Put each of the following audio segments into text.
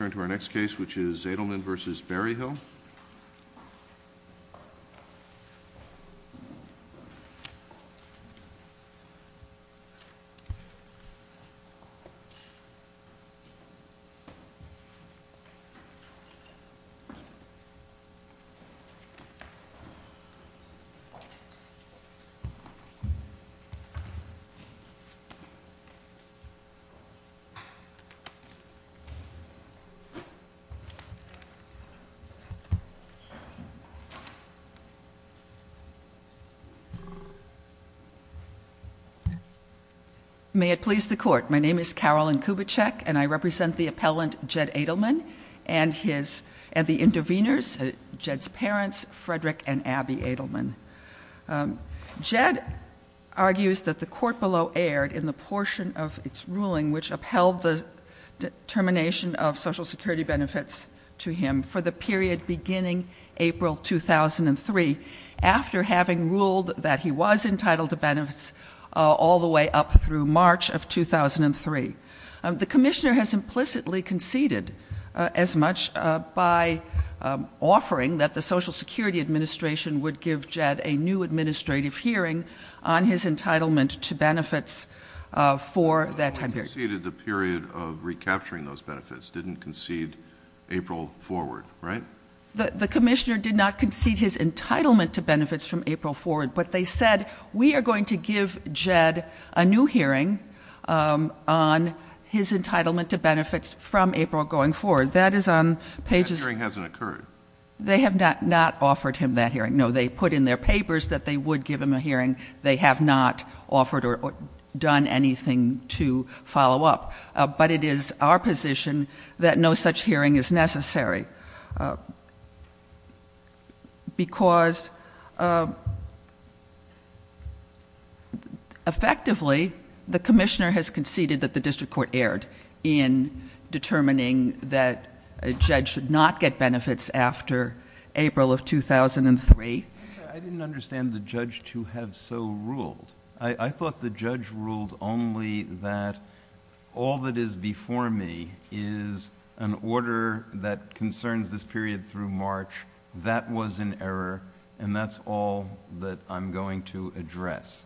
Let's turn to our next case, which is Adelman v. Berryhill. May it please the Court, my name is Carolyn Kubitschek, and I represent the appellant Jed Adelman and the intervenors, Jed's parents, Frederick and Abby Adelman. Jed argues that the court below erred in the portion of its ruling which upheld the determination of Social Security benefits to him for the period beginning April 2003, after having ruled that he was entitled to benefits all the way up through March of 2003. The Commissioner has implicitly conceded as much by offering that the Social Security Administration would give Jed a new administrative hearing on his entitlement to benefits for that time period. He conceded the period of recapturing those benefits, didn't concede April forward, right? The Commissioner did not concede his entitlement to benefits from April forward, but they said we are going to give Jed a new hearing on his entitlement to benefits from April going forward. That is on pages That hearing hasn't occurred. They have not offered him that hearing. No, they put in their papers that they would give him a hearing. They have not offered or done anything to follow up. But it is our position that no such hearing is necessary because effectively the Commissioner has conceded that the District Court erred in determining that Jed should not get benefits after April of 2003. I didn't understand the judge to have so ruled. I thought the judge ruled only that all that is before me is an order that concerns this period through March. That was an error and that's all that I'm going to address.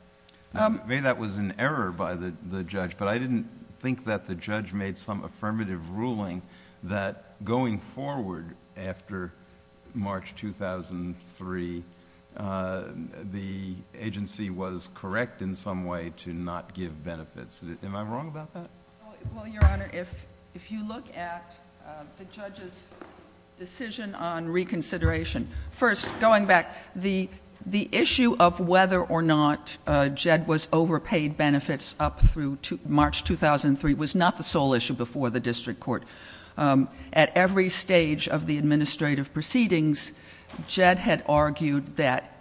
Maybe that was an error by the judge, but I didn't think that the judge made some affirmative ruling that going forward after March 2003, the agency was correct in some way to not give benefits. Am I wrong about that? Well, Your Honor, if you look at the judge's decision on reconsideration, first going back, the issue of whether or not Jed was overpaid benefits up through March 2003 was not the District Court. At every stage of the administrative proceedings, Jed had argued that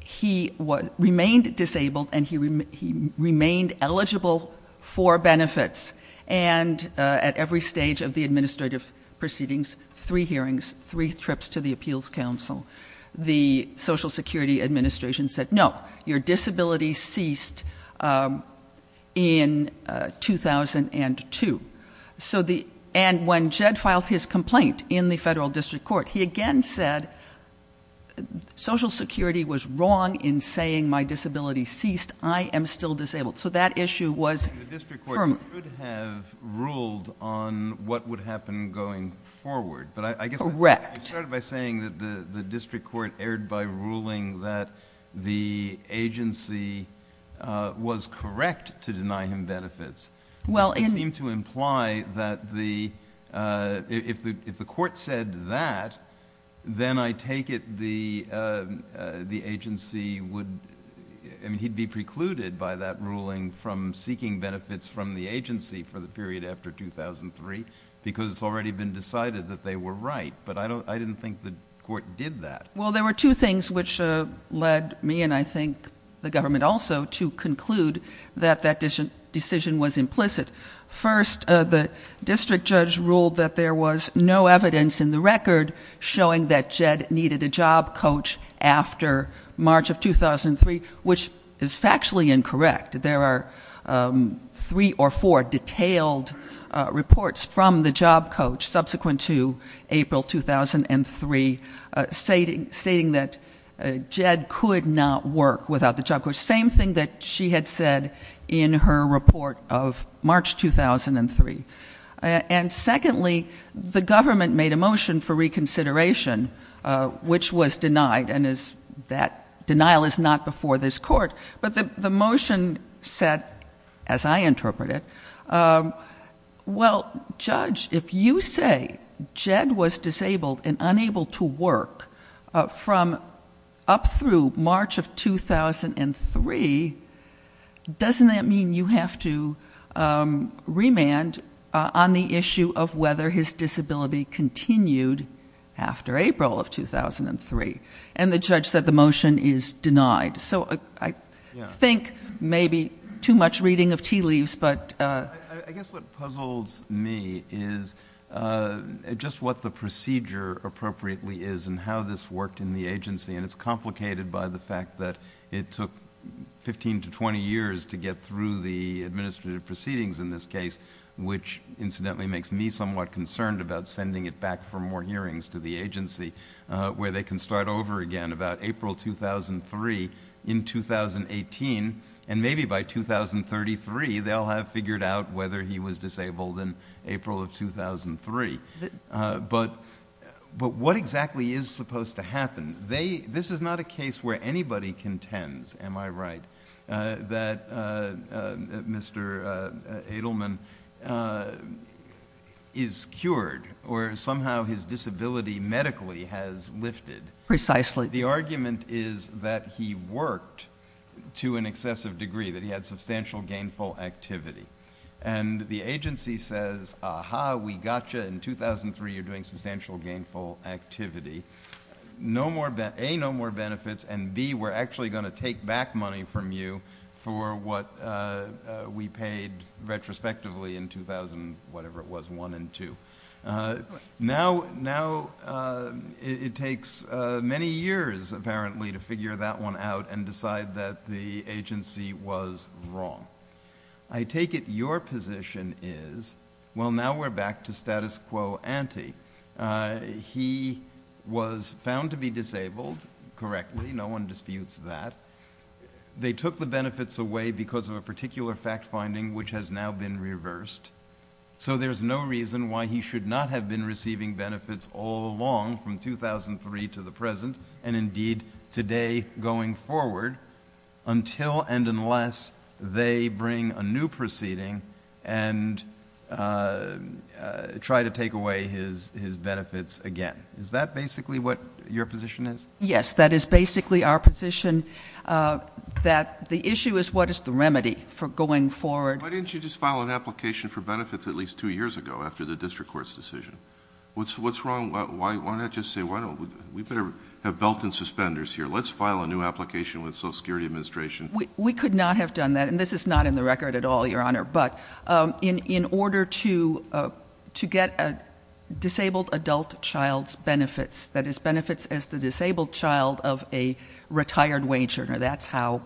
he remained disabled and he remained eligible for benefits. And at every stage of the administrative proceedings, three hearings, three trips to the Appeals Council, the Social Security Administration said, no, your disability ceased in 2002. And when Jed filed his complaint in the Federal District Court, he again said Social Security was wrong in saying my disability ceased. I am still disabled. So that issue was firm. And the District Court could have ruled on what would happen going forward, but I guess I started by saying that the District Court erred by ruling that the agency was correct to deny him benefits. Well, in- It seemed to imply that the, if the Court said that, then I take it the agency would, I mean, he'd be precluded by that ruling from seeking benefits from the agency for the period after 2003 because it's already been decided that they were right. But I don't, I didn't think the Court did that. Well, there were two things which led me and I think the government also to conclude that that decision was implicit. First, the District Judge ruled that there was no evidence in the record showing that Jed needed a job coach after March of 2003, which is factually incorrect. There are three or four detailed reports from the job coach subsequent to April 2003 stating that Jed could not work without the job coach. Same thing that she had said in her report of March 2003. And secondly, the government made a motion for reconsideration, which was denied and is that denial is not before this Court. But the motion said, as I interpret it, well, Judge, if you say Jed was disabled and unable to work from up through March of 2003, doesn't that mean you have to remand on the issue of whether his disability continued after April of 2003? And the Judge said the motion is denied. So I think maybe too much reading of tea leaves, but... It's complicated by the fact that it took fifteen to twenty years to get through the administrative proceedings in this case, which, incidentally, makes me somewhat concerned about sending it back from more hearings to the agency, where they can start over again about April 2003 in 2018 and maybe by 2033 they'll have figured out whether he was disabled in April of 2003. But what exactly is supposed to happen? This is not a case where anybody contends, am I right, that Mr. Edelman is cured or somehow his disability medically has lifted. Precisely. The argument is that he worked to an excessive degree, that he had substantial gainful activity, and the 2003 you're doing substantial gainful activity. A, no more benefits, and B, we're actually going to take back money from you for what we paid retrospectively in 2000, whatever it was, one and two. Now it takes many years, apparently, to figure that one out and decide that the agency was wrong. I take it your position is, well, now we're back to status quo ante. He was found to be disabled correctly, no one disputes that. They took the benefits away because of a particular fact finding, which has now been reversed. So there's no reason why he should not have been receiving benefits all along from 2003 to the present and, indeed, today going forward until and unless they bring a new proceeding and try to take away his benefits again. Is that basically what your position is? Yes, that is basically our position, that the issue is what is the remedy for going forward... Why didn't you just file an application for benefits at least two years ago after the district court's decision? What's wrong? Why not just say, well, we better have belt and suspenders here. Let's file a new application with Social Security Administration. We could not have done that, and this is not in the record at all, Your Honor, but in order to get a disabled adult child's benefits, that is, benefits as the disabled child of a retired wage earner, that's how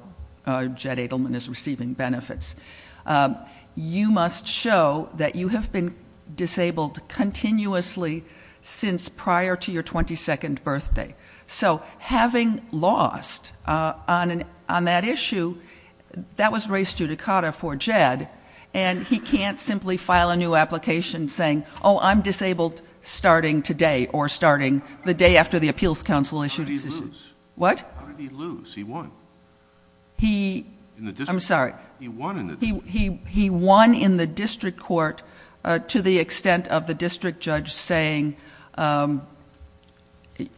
Jed Edelman is receiving benefits, you must show that you have been disabled continuously since prior to your 22nd birthday. So having lost on that issue, that was res judicata for Jed, and he can't simply file a new application saying, oh, I'm disabled starting today or starting the day after the appeals counsel issued... How did he lose? He won. I'm sorry. He won in the district court to the extent of the district judge saying,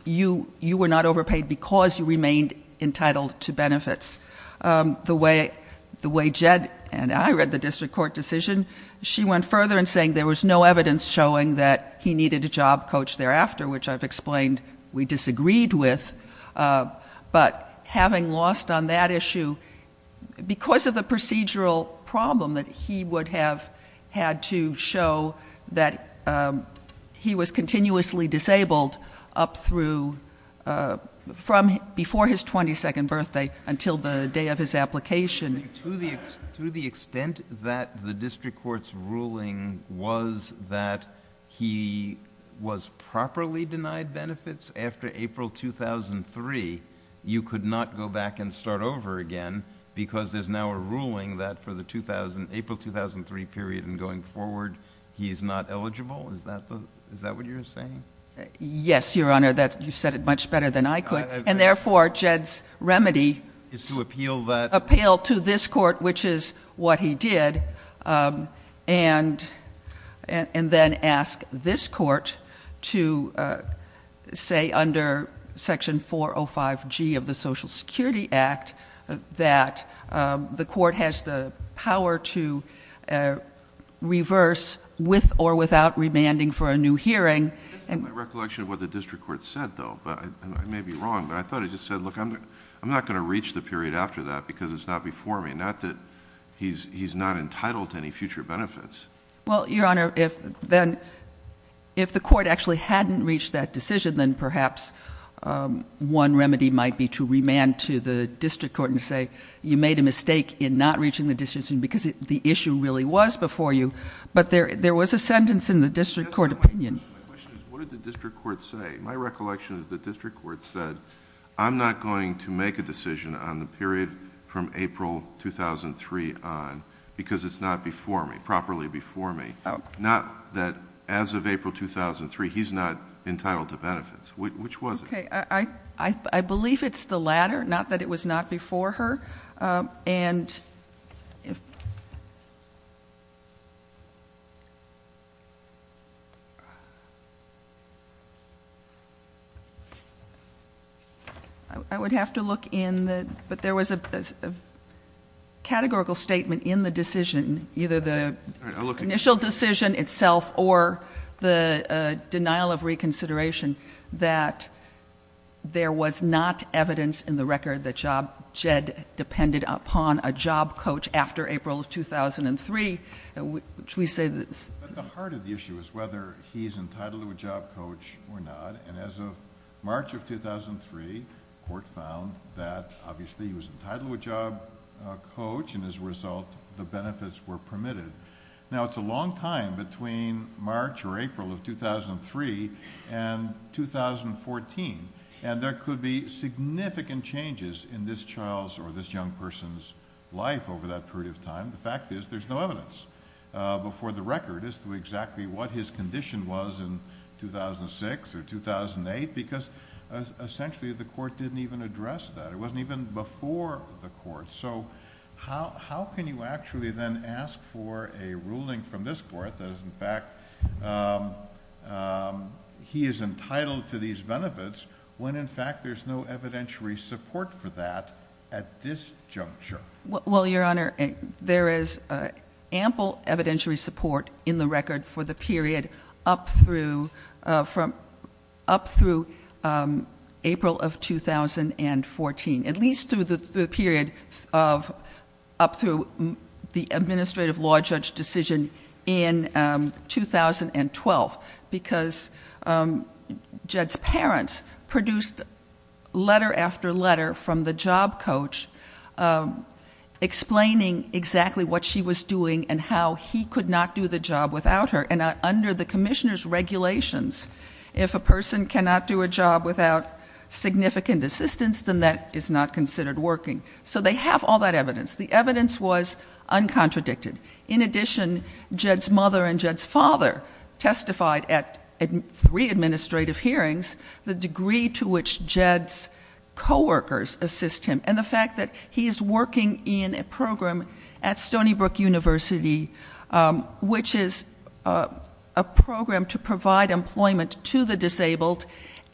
you were not overpaid because you remained entitled to benefits. The way Jed and I read the district court decision, she went further in saying there was no evidence showing that he needed a job coach thereafter, which I've explained we disagreed with, but having lost on that issue, because of the procedural problem that he would have had to show that he was continuously disabled up through... from before his 22nd birthday until the day of his application... To the extent that the district court's ruling was that he was properly denied benefits after April 2003, you could not go back and start over again because there's now a ruling that for the April 2003 period and going forward, he's not eligible? Is that what you're saying? Yes, Your Honor. You said it much better than I could. And therefore, Jed's remedy... Is to appeal that... Appeal to this court, which is what he did, and then ask this court to say under Section 405G of the Social Security Act that the court has the power to reverse with or without remanding for a new hearing... This is my recollection of what the district court said, though, and I may be wrong, but I thought it just said, look, I'm not going to reach the period after that because it's not before me, not that he's not entitled to any future benefits. Well, Your Honor, if the court actually hadn't reached that decision, then perhaps one remedy might be to remand to the district court and say you made a mistake in not reaching the decision because the issue really was before you, but there was a sentence in the district court opinion... What did the district court say? My recollection is the district court said, I'm not going to make a decision on the period from April 2003 on because it's not before me, properly before me, not that as of April 2003, he's not entitled to benefits. Which was it? I believe it's the latter, not that it was not before her. And... I would have to look in the... but there was a categorical statement in the decision, either the initial decision itself or the denial of reconsideration that there was not evidence in the record that Job, Jed depended on. Now, it's a long time between March or April of 2003 and 2014, and there could be significant changes in this child's or this young person's life. Over that period of time, the fact is there's no evidence before the record as to exactly what his condition was in 2006 or 2008 because essentially the court didn't even address that. It wasn't even before the court. So how can you actually then ask for a ruling from this court that is, in fact, he is entitled to these benefits when in fact there's no evidentiary support for that at this juncture? Well, Your Honor, there is ample evidentiary support in the record for the period up through April of 2014, at least through the period of up through the administrative law judge decision in 2012. Because Jed's parents produced letter after letter from the job coach explaining exactly what she was doing and how he could not do the job without her. And under the commissioner's regulations, if a person cannot do a job without significant assistance, then that is not considered working. So they have all that evidence. The evidence was uncontradicted. In addition, Jed's mother and Jed's father testified at three administrative hearings the degree to which Jed's coworkers assist him. And the fact that he is working in a program at Stony Brook University, which is a program to provide employment to the disabled,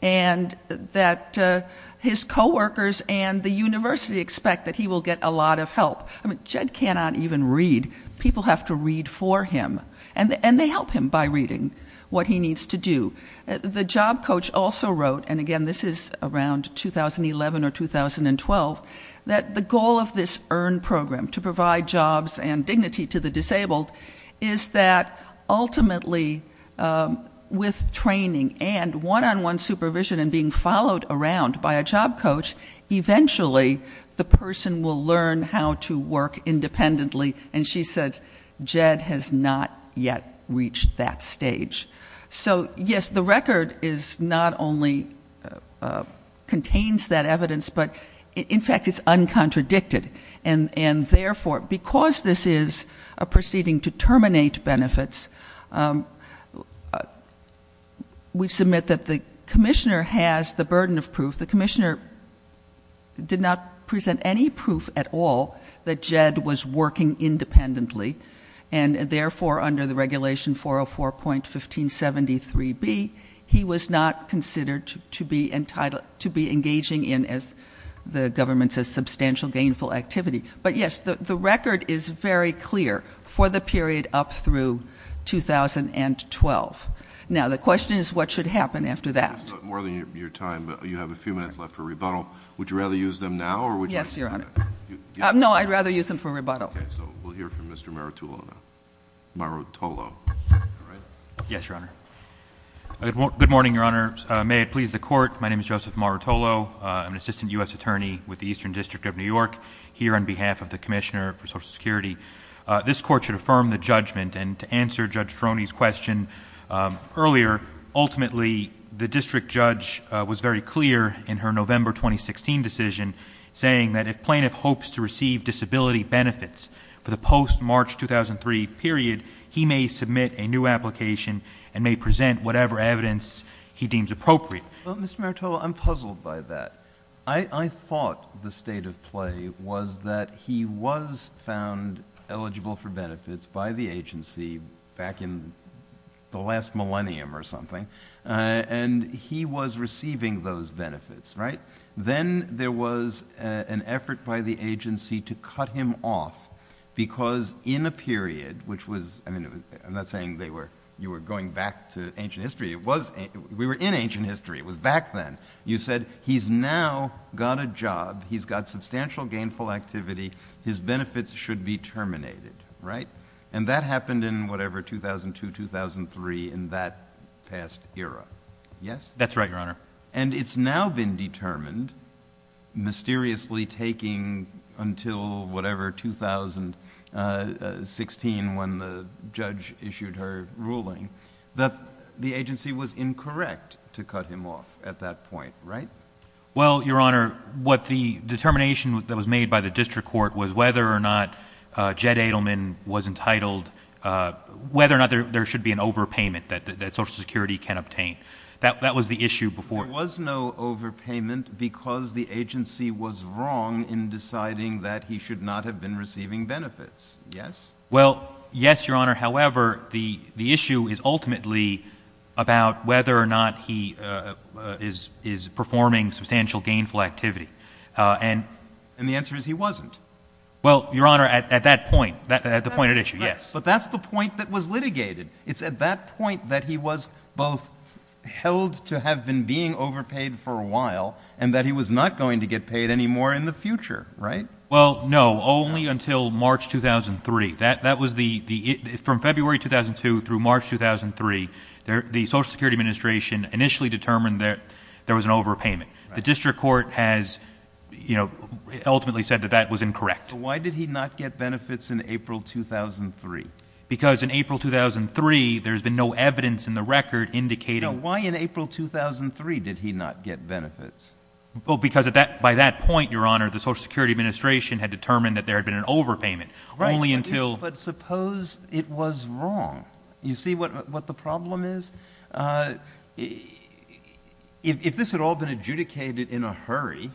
and that his coworkers and the university expect that he will get a lot of help. I mean, Jed cannot even read. People have to read for him. And they help him by reading what he needs to do. The job coach also wrote, and again, this is around 2011 or 2012, that the goal of this EARN program, to provide jobs and dignity to the disabled, is that ultimately with training and one-on-one supervision and being followed around by a job coach, eventually the person will learn how to work independently. And she says Jed has not yet reached that stage. So, yes, the record not only contains that evidence, but in fact it's uncontradicted. And therefore, because this is a proceeding to terminate benefits, we submit that the commissioner has the burden of proof. The commissioner did not present any proof at all that Jed was working independently. And therefore, under the regulation 404.1573B, he was not considered to be engaging in, as the government says, substantial gainful activity. But, yes, the record is very clear for the period up through 2012. Now, the question is what should happen after that. I know this is more than your time, but you have a few minutes left for rebuttal. Would you rather use them now? Yes, Your Honor. No, I'd rather use them for rebuttal. Okay, so we'll hear from Mr. Marutolo now. Marutolo. Yes, Your Honor. Good morning, Your Honor. May it please the Court, my name is Joseph Marutolo. I'm an assistant U.S. attorney with the Eastern District of New York, here on behalf of the Commissioner for Social Security. This Court should affirm the judgment, and to answer Judge Troni's question earlier, ultimately the district judge was very clear in her November 2016 decision, saying that if plaintiff hopes to receive disability benefits for the post-March 2003 period, he may submit a new application and may present whatever evidence he deems appropriate. Well, Mr. Marutolo, I'm puzzled by that. I thought the state of play was that he was found eligible for benefits by the agency back in the last millennium or something, and he was receiving those benefits, right? Then there was an effort by the agency to cut him off because in a period which was, I mean, I'm not saying you were going back to ancient history. We were in ancient history. It was back then. You said he's now got a job, he's got substantial gainful activity, his benefits should be terminated, right? And that happened in whatever, 2002, 2003, in that past era, yes? That's right, Your Honor. And it's now been determined, mysteriously taking until whatever, 2016, when the judge issued her ruling, that the agency was incorrect to cut him off at that point, right? Well, Your Honor, what the determination that was made by the district court was whether or not Jed Adelman was entitled, whether or not there should be an overpayment that Social Security can obtain. That was the issue before. There was no overpayment because the agency was wrong in deciding that he should not have been receiving benefits, yes? Well, yes, Your Honor. However, the issue is ultimately about whether or not he is performing substantial gainful activity. And the answer is he wasn't. Well, Your Honor, at that point, at the point at issue, yes. But that's the point that was litigated. It's at that point that he was both held to have been being overpaid for a while, and that he was not going to get paid anymore in the future, right? Well, no, only until March 2003. From February 2002 through March 2003, the Social Security Administration initially determined that there was an overpayment. The district court has, you know, ultimately said that that was incorrect. So why did he not get benefits in April 2003? Because in April 2003, there's been no evidence in the record indicating — No, why in April 2003 did he not get benefits? Well, because by that point, Your Honor, the Social Security Administration had determined that there had been an overpayment. Right. Only until — But suppose it was wrong. You see what the problem is? If this had all been adjudicated in a hurry,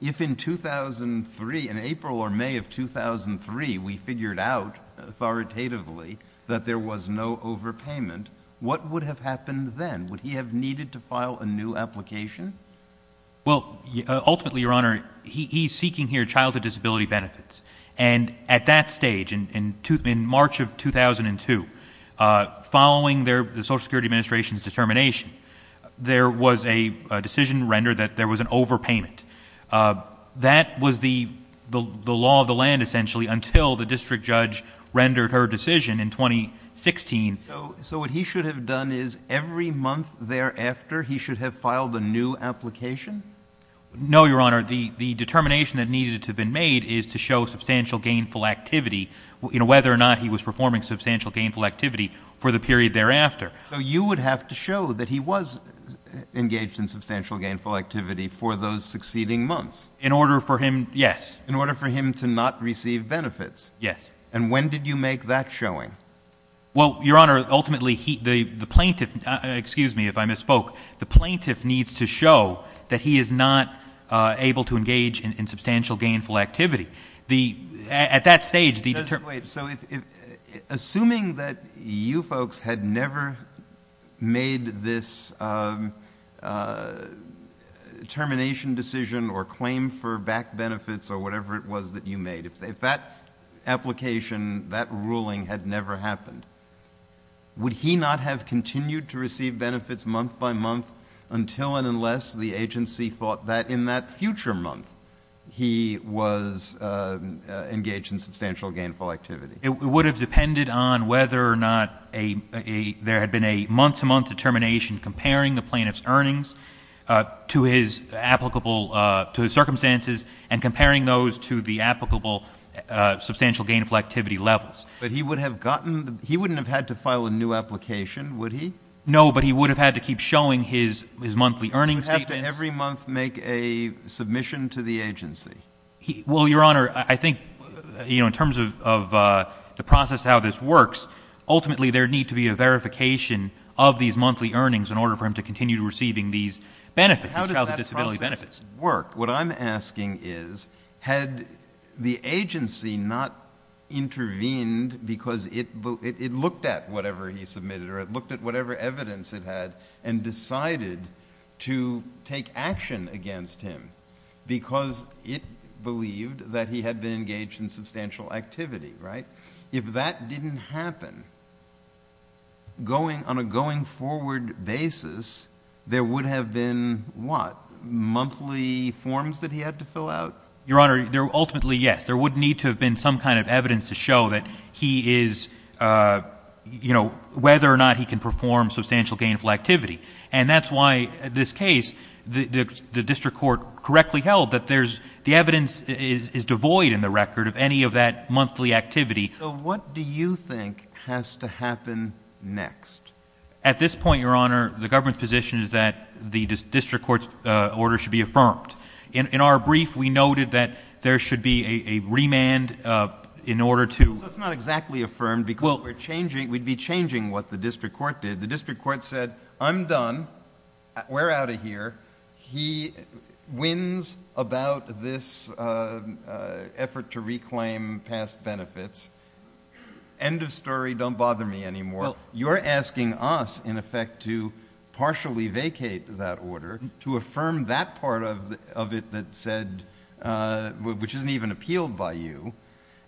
if in 2003, in April or May of 2003, we figured out authoritatively that there was no overpayment, what would have happened then? Would he have needed to file a new application? Well, ultimately, Your Honor, he's seeking here childhood disability benefits. And at that stage, in March of 2002, following the Social Security Administration's determination, there was a decision rendered that there was an overpayment. That was the law of the land, essentially, until the district judge rendered her decision in 2016. So what he should have done is every month thereafter, he should have filed a new application? No, Your Honor. The determination that needed to have been made is to show substantial gainful activity, you know, whether or not he was performing substantial gainful activity for the period thereafter. So you would have to show that he was engaged in substantial gainful activity for those succeeding months? In order for him — yes. In order for him to not receive benefits? Yes. And when did you make that showing? Well, Your Honor, ultimately, the plaintiff — excuse me if I misspoke. The plaintiff needs to show that he is not able to engage in substantial gainful activity. At that stage, the — Wait. So assuming that you folks had never made this termination decision or claim for back benefits or whatever it was that you made, if that application, that ruling had never happened, would he not have continued to receive benefits month by month until and unless the agency thought that in that future month he was engaged in substantial gainful activity? It would have depended on whether or not there had been a month-to-month determination comparing the plaintiff's earnings to his applicable — to his circumstances and comparing those to the applicable substantial gainful activity levels. But he would have gotten — he wouldn't have had to file a new application, would he? No, but he would have had to keep showing his monthly earnings statements. Would he have to every month make a submission to the agency? Well, Your Honor, I think, you know, in terms of the process of how this works, ultimately there would need to be a verification of these monthly earnings in order for him to continue receiving these benefits, these childhood disability benefits. But how does that process work? What I'm asking is, had the agency not intervened because it looked at whatever he submitted or it looked at whatever evidence it had and decided to take action against him because it believed that he had been engaged in substantial activity, right? If that didn't happen, going — on a going-forward basis, there would have been what, monthly forms that he had to fill out? Your Honor, ultimately, yes. There would need to have been some kind of evidence to show that he is — you know, whether or not he can perform substantial gainful activity. And that's why this case, the district court correctly held that there's — the evidence is devoid in the record of any of that monthly activity. So what do you think has to happen next? At this point, Your Honor, the government's position is that the district court's order should be affirmed. In our brief, we noted that there should be a remand in order to — So it's not exactly affirmed because we're changing — we'd be changing what the district court did. The district court said, I'm done. We're out of here. He wins about this effort to reclaim past benefits. End of story. Don't bother me anymore. You're asking us, in effect, to partially vacate that order, to affirm that part of it that said — which isn't even appealed by you,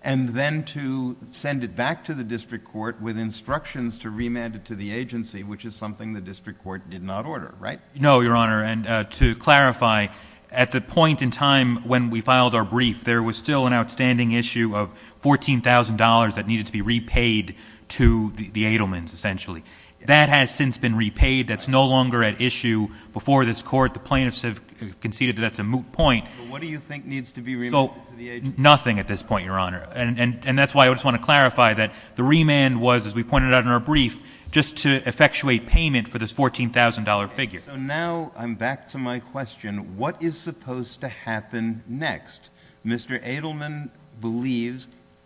and then to send it back to the district court with instructions to remand it to the agency, which is something the district court did not order, right? No, Your Honor. And to clarify, at the point in time when we filed our brief, there was still an outstanding issue of $14,000 that needed to be repaid to the Edelmans, essentially. That has since been repaid. That's no longer at issue. Before this court, the plaintiffs have conceded that that's a moot point. But what do you think needs to be remanded to the agency? Nothing at this point, Your Honor. And that's why I just want to clarify that the remand was, as we pointed out in our brief, just to effectuate payment for this $14,000 figure. Okay, so now I'm back to my question. What is supposed to happen next? Mr. Edelman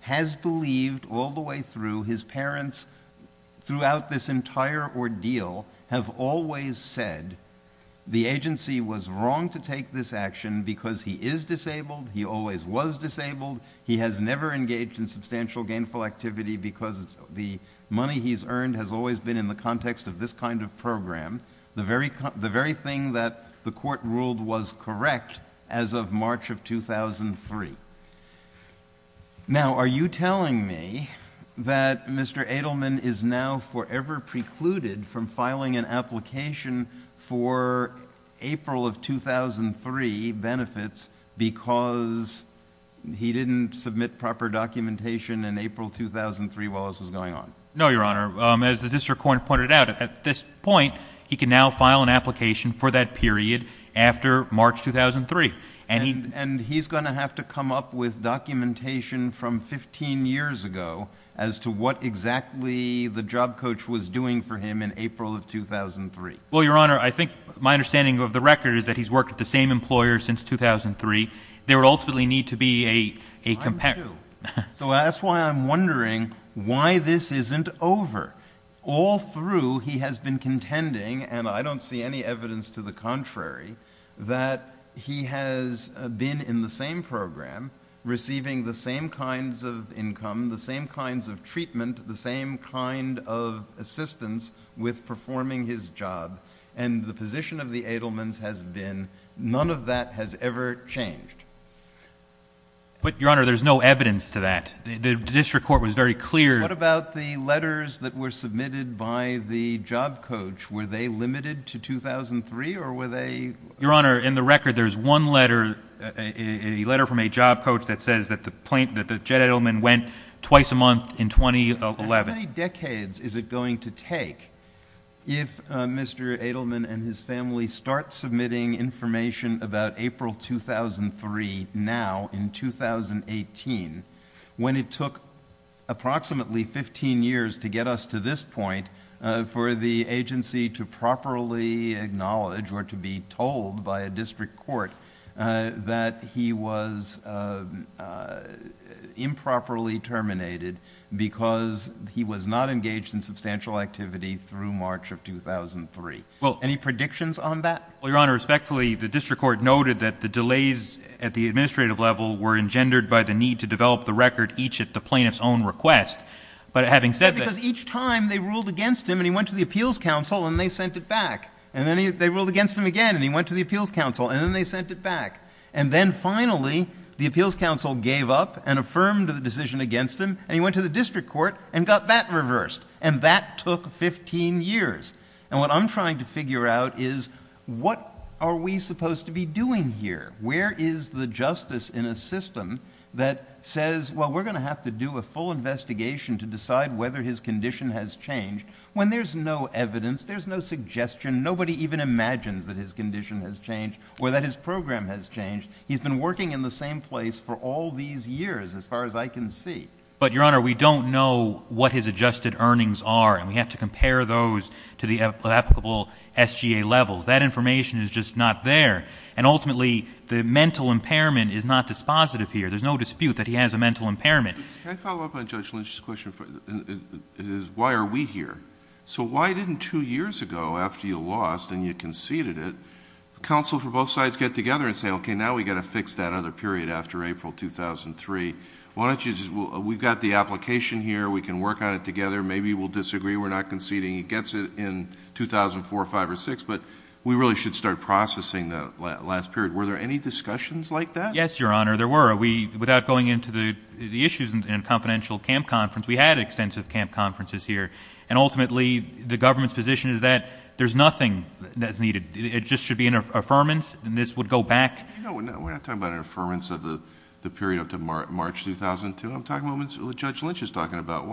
has believed all the way through, his parents throughout this entire ordeal have always said the agency was wrong to take this action because he is disabled, he always was disabled, he has never engaged in substantial gainful activity because the money he's earned has always been in the context of this kind of program. The very thing that the court ruled was correct as of March of 2003. Now, are you telling me that Mr. Edelman is now forever precluded from filing an application for April of 2003 benefits because he didn't submit proper documentation in April 2003 while this was going on? No, Your Honor. As the district court pointed out, at this point, he can now file an application for that period after March 2003. And he's going to have to come up with documentation from 15 years ago as to what exactly the job coach was doing for him in April of 2003? Well, Your Honor, I think my understanding of the record is that he's worked at the same employer since 2003. There would ultimately need to be a comparison. So that's why I'm wondering why this isn't over. All through, he has been contending, and I don't see any evidence to the contrary, that he has been in the same program, receiving the same kinds of income, the same kinds of treatment, the same kind of assistance with performing his job. And the position of the Edelmans has been none of that has ever changed. But, Your Honor, there's no evidence to that. The district court was very clear. What about the letters that were submitted by the job coach? Were they limited to 2003, or were they? Your Honor, in the record, there's one letter, a letter from a job coach, that says that the Edelman went twice a month in 2011. How many decades is it going to take if Mr. Edelman and his family start submitting information about April 2003 now, in 2018, when it took approximately fifteen years to get us to this point for the agency to properly acknowledge or to be told by a district court that he was improperly terminated because he was not engaged in substantial activity through March of 2003? Any predictions on that? Well, Your Honor, respectfully, the district court noted that the delays at the administrative level were engendered by the need to develop the record each at the plaintiff's own request. But having said that— Because each time they ruled against him, and he went to the appeals council, and they sent it back. And then they ruled against him again, and he went to the appeals council, and then they sent it back. And then finally, the appeals council gave up and affirmed the decision against him, and he went to the district court and got that reversed. And that took fifteen years. And what I'm trying to figure out is what are we supposed to be doing here? Where is the justice in a system that says, well, we're going to have to do a full investigation to decide whether his condition has changed, when there's no evidence, there's no suggestion, nobody even imagines that his condition has changed or that his program has changed. He's been working in the same place for all these years, as far as I can see. But, Your Honor, we don't know what his adjusted earnings are, and we have to compare those to the applicable SGA levels. That information is just not there. And ultimately, the mental impairment is not dispositive here. There's no dispute that he has a mental impairment. Can I follow up on Judge Lynch's question? Why are we here? So why didn't two years ago, after you lost and you conceded it, counsel for both sides get together and say, okay, now we've got to fix that other period after April 2003. We've got the application here. We can work on it together. Maybe we'll disagree. We're not conceding. He gets it in 2004, 2005, or 2006. But we really should start processing the last period. Were there any discussions like that? Yes, Your Honor, there were. Without going into the issues in a confidential camp conference, we had extensive camp conferences here. And ultimately, the government's position is that there's nothing that's needed. It just should be an affirmance, and this would go back. No, we're not talking about an affirmance of the period up to March 2002. I'm talking about what Judge Lynch is talking about.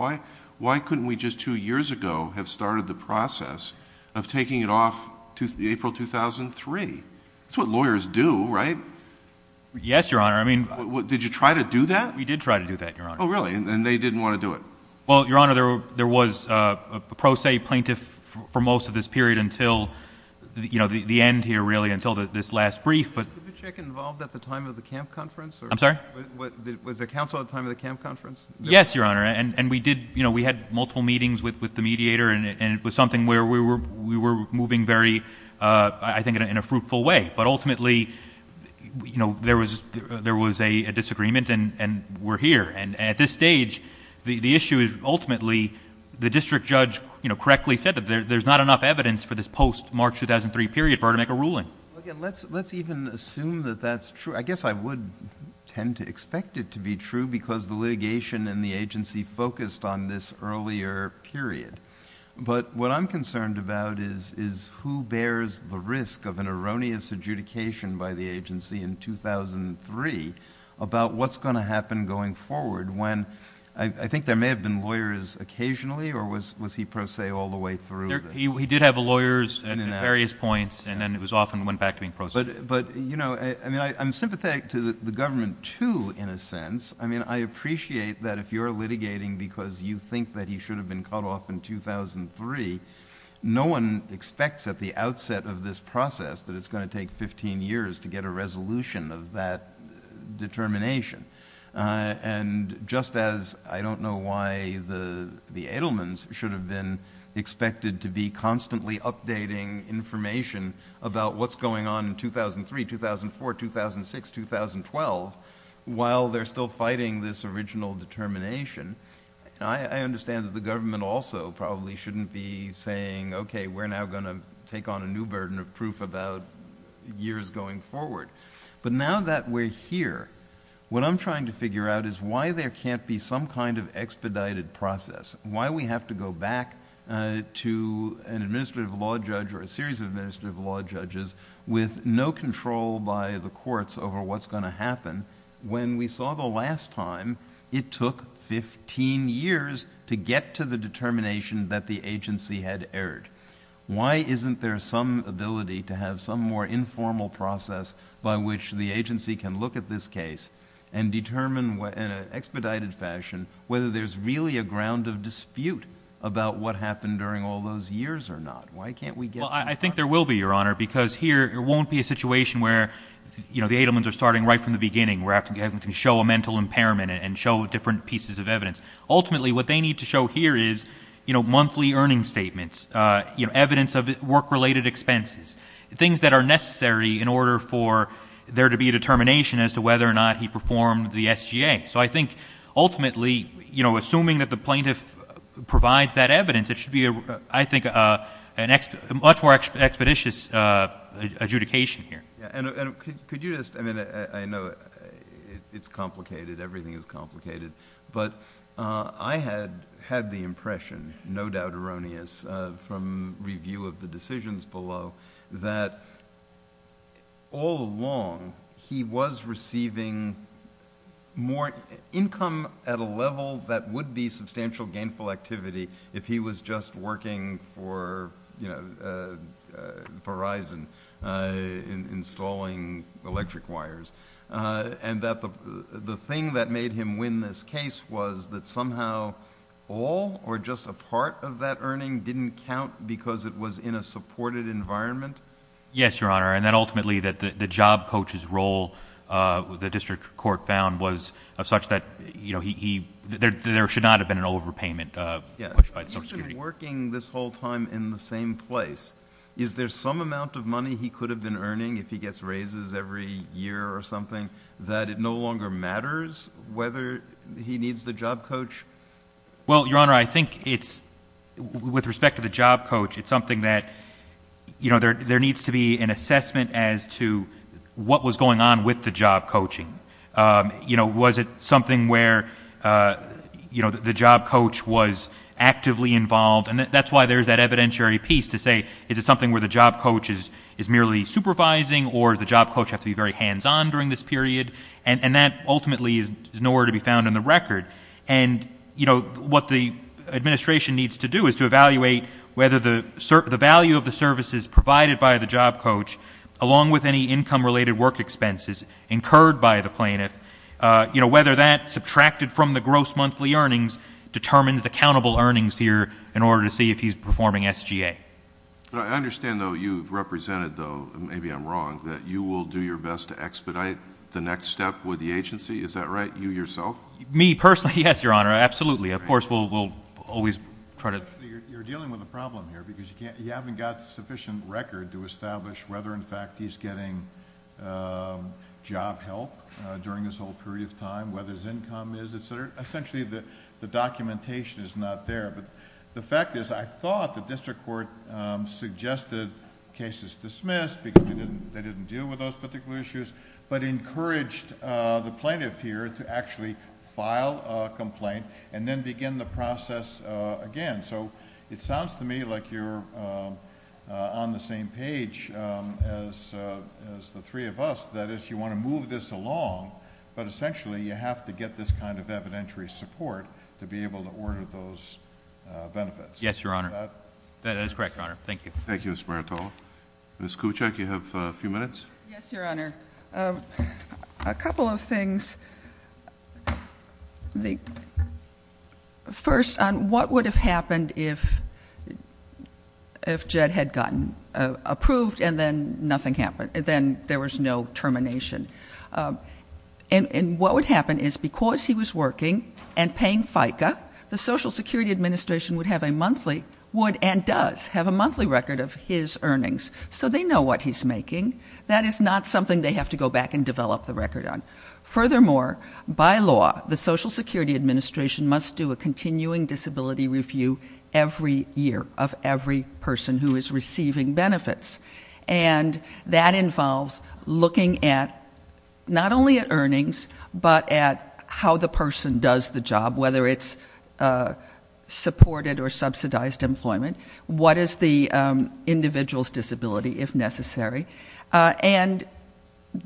Why couldn't we just two years ago have started the process of taking it off to April 2003? That's what lawyers do, right? Yes, Your Honor. Did you try to do that? We did try to do that, Your Honor. Oh, really? And they didn't want to do it? Well, Your Honor, there was a pro se plaintiff for most of this period until the end here, really, until this last brief. Was Dubichik involved at the time of the camp conference? I'm sorry? Was there counsel at the time of the camp conference? Yes, Your Honor. And we did, you know, we had multiple meetings with the mediator, and it was something where we were moving very, I think, in a fruitful way. But ultimately, you know, there was a disagreement, and we're here. And at this stage, the issue is ultimately the district judge, you know, correctly said that there's not enough evidence for this post-March 2003 period for her to make a ruling. Well, again, let's even assume that that's true. I guess I would tend to expect it to be true because the litigation and the agency focused on this earlier period. But what I'm concerned about is who bears the risk of an erroneous adjudication by the agency in 2003 about what's going to happen going forward when... I think there may have been lawyers occasionally, or was he pro se all the way through? He did have lawyers at various points, and then it often went back to being pro se. But, you know, I mean, I'm sympathetic to the government, too, in a sense. I mean, I appreciate that if you're litigating because you think that he should have been cut off in 2003, no one expects at the outset of this process that it's going to take 15 years to get a resolution of that determination. And just as I don't know why the Edelmans should have been expected to be constantly updating information about what's going on in 2003, 2004, 2006, 2012, while they're still fighting this original determination, I understand that the government also probably shouldn't be saying, okay, we're now going to take on a new burden of proof about years going forward. But now that we're here, what I'm trying to figure out is why there can't be some kind of expedited process, why we have to go back to an administrative law judge or a series of administrative law judges with no control by the courts over what's going to happen, when we saw the last time it took 15 years to get to the determination that the agency had erred. Why isn't there some ability to have some more informal process by which the agency can look at this case and determine in an expedited fashion whether there's really a ground of dispute about what happened during all those years or not? Why can't we get some more? Well, I think there will be, Your Honor, because here there won't be a situation where, you know, the Edelmans are starting right from the beginning. We're having to show a mental impairment and show different pieces of evidence. Ultimately, what they need to show here is, you know, monthly earnings statements, evidence of work-related expenses, things that are necessary in order for there to be a determination as to whether or not he performed the SGA. So I think ultimately, you know, assuming that the plaintiff provides that evidence, it should be, I think, a much more expeditious adjudication here. And could you just, I mean, I know it's complicated, everything is complicated, but I had the impression, no doubt erroneous from review of the decisions below, that all along he was receiving more income at a level that would be substantial gainful activity if he was just working for, you know, Verizon installing electric wires. And that the thing that made him win this case was that somehow all or just a part of that earning didn't count because it was in a supported environment? Yes, Your Honor, and that ultimately the job coach's role, the district court found, was such that, you know, there should not have been an overpayment. He's been working this whole time in the same place. Is there some amount of money he could have been earning if he gets raises every year or something that it no longer matters whether he needs the job coach? Well, Your Honor, I think it's, with respect to the job coach, it's something that, you know, there needs to be an assessment as to what was going on with the job coaching. You know, was it something where, you know, the job coach was actively involved? And that's why there's that evidentiary piece to say, is it something where the job coach is merely supervising or does the job coach have to be very hands-on during this period? And that ultimately is nowhere to be found in the record. And, you know, what the administration needs to do is to evaluate whether the value of the services provided by the job coach, along with any income-related work expenses incurred by the plaintiff, you know, whether that, subtracted from the gross monthly earnings, determines the countable earnings here in order to see if he's performing SGA. I understand, though, you've represented, though maybe I'm wrong, that you will do your best to expedite the next step with the agency. Is that right? You yourself? Me personally? Yes, Your Honor, absolutely. Of course, we'll always try to... You're dealing with a problem here because you haven't got sufficient record to establish whether, in fact, he's getting job help during this whole period of time, whether his income is, et cetera. Essentially, the documentation is not there. But the fact is I thought the district court suggested cases dismissed because they didn't deal with those particular issues but encouraged the plaintiff here to actually file a complaint and then begin the process again. So it sounds to me like you're on the same page as the three of us, that is, you want to move this along, but essentially you have to get this kind of evidentiary support to be able to order those benefits. Yes, Your Honor. That is correct, Your Honor. Thank you. Thank you, Ms. Maritolo. Ms. Kuczek, you have a few minutes. Yes, Your Honor. A couple of things. First, on what would have happened if Jed had gotten approved and then nothing happened, then there was no termination. And what would happen is because he was working and paying FICA, the Social Security Administration would have a monthly, would and does have a monthly record of his earnings. So they know what he's making. That is not something they have to go back and develop the record on. Furthermore, by law, the Social Security Administration must do a continuing disability review every year of every person who is receiving benefits. And that involves looking at not only at earnings but at how the person does the job, whether it's supported or subsidized employment, what is the individual's disability, if necessary. And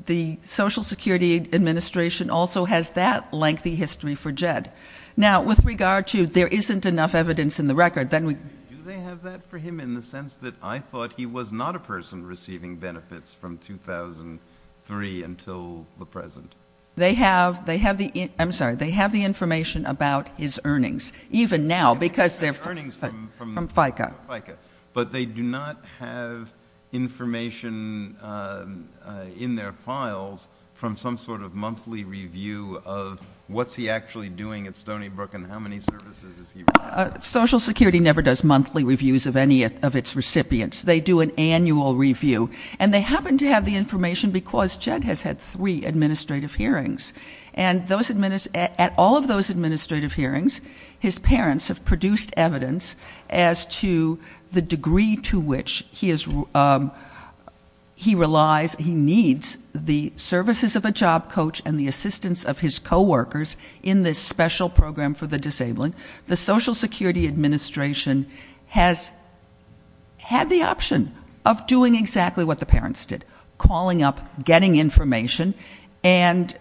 the Social Security Administration also has that lengthy history for Jed. Now, with regard to there isn't enough evidence in the record, then we... Do they have that for him in the sense that I thought he was not a person receiving benefits from 2003 until the present? They have the information about his earnings. Even now, because they're from FICA. But they do not have information in their files from some sort of monthly review of what's he actually doing at Stony Brook and how many services is he running? Social Security never does monthly reviews of any of its recipients. They do an annual review. And they happen to have the information because Jed has had three administrative hearings. And at all of those administrative hearings, his parents have produced evidence as to the degree to which he relies, he needs the services of a job coach and the assistance of his coworkers in this special program for the disabled. The Social Security Administration has had the option of doing exactly what the parents did, calling up, getting information, and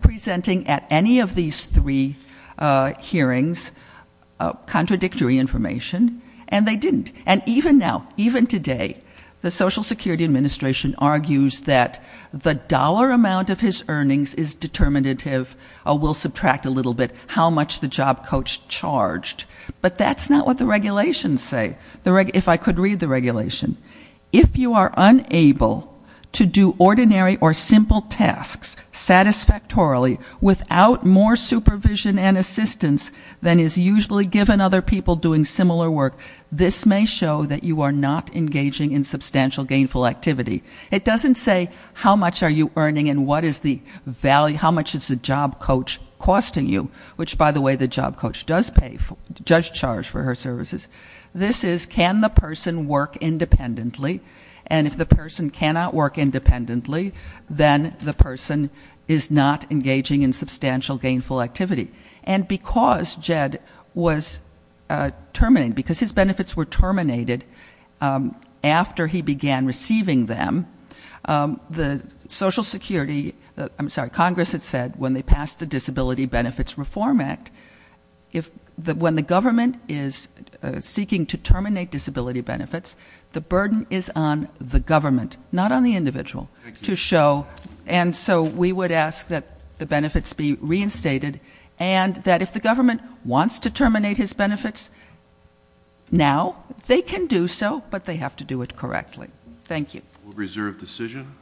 presenting at any of these three hearings contradictory information. And they didn't. And even now, even today, the Social Security Administration argues that the dollar amount of his earnings is determinative. We'll subtract a little bit how much the job coach charged. But that's not what the regulations say, if I could read the regulation. If you are unable to do ordinary or simple tasks satisfactorily without more supervision and assistance than is usually given other people doing similar work, this may show that you are not engaging in substantial gainful activity. It doesn't say how much are you earning and what is the value, how much is the job coach costing you, which, by the way, the job coach does pay, does charge for her services. This is can the person work independently, and if the person cannot work independently, then the person is not engaging in substantial gainful activity. And because Jed was terminated, because his benefits were terminated after he began receiving them, the Social Security ‑‑ I'm sorry, Congress had said when they passed the Disability Benefits Reform Act, when the government is seeking to terminate disability benefits, the burden is on the government, not on the individual, to show. And so we would ask that the benefits be reinstated and that if the government wants to terminate his benefits now, they can do so, but they have to do it correctly. Thank you. We'll reserve decision.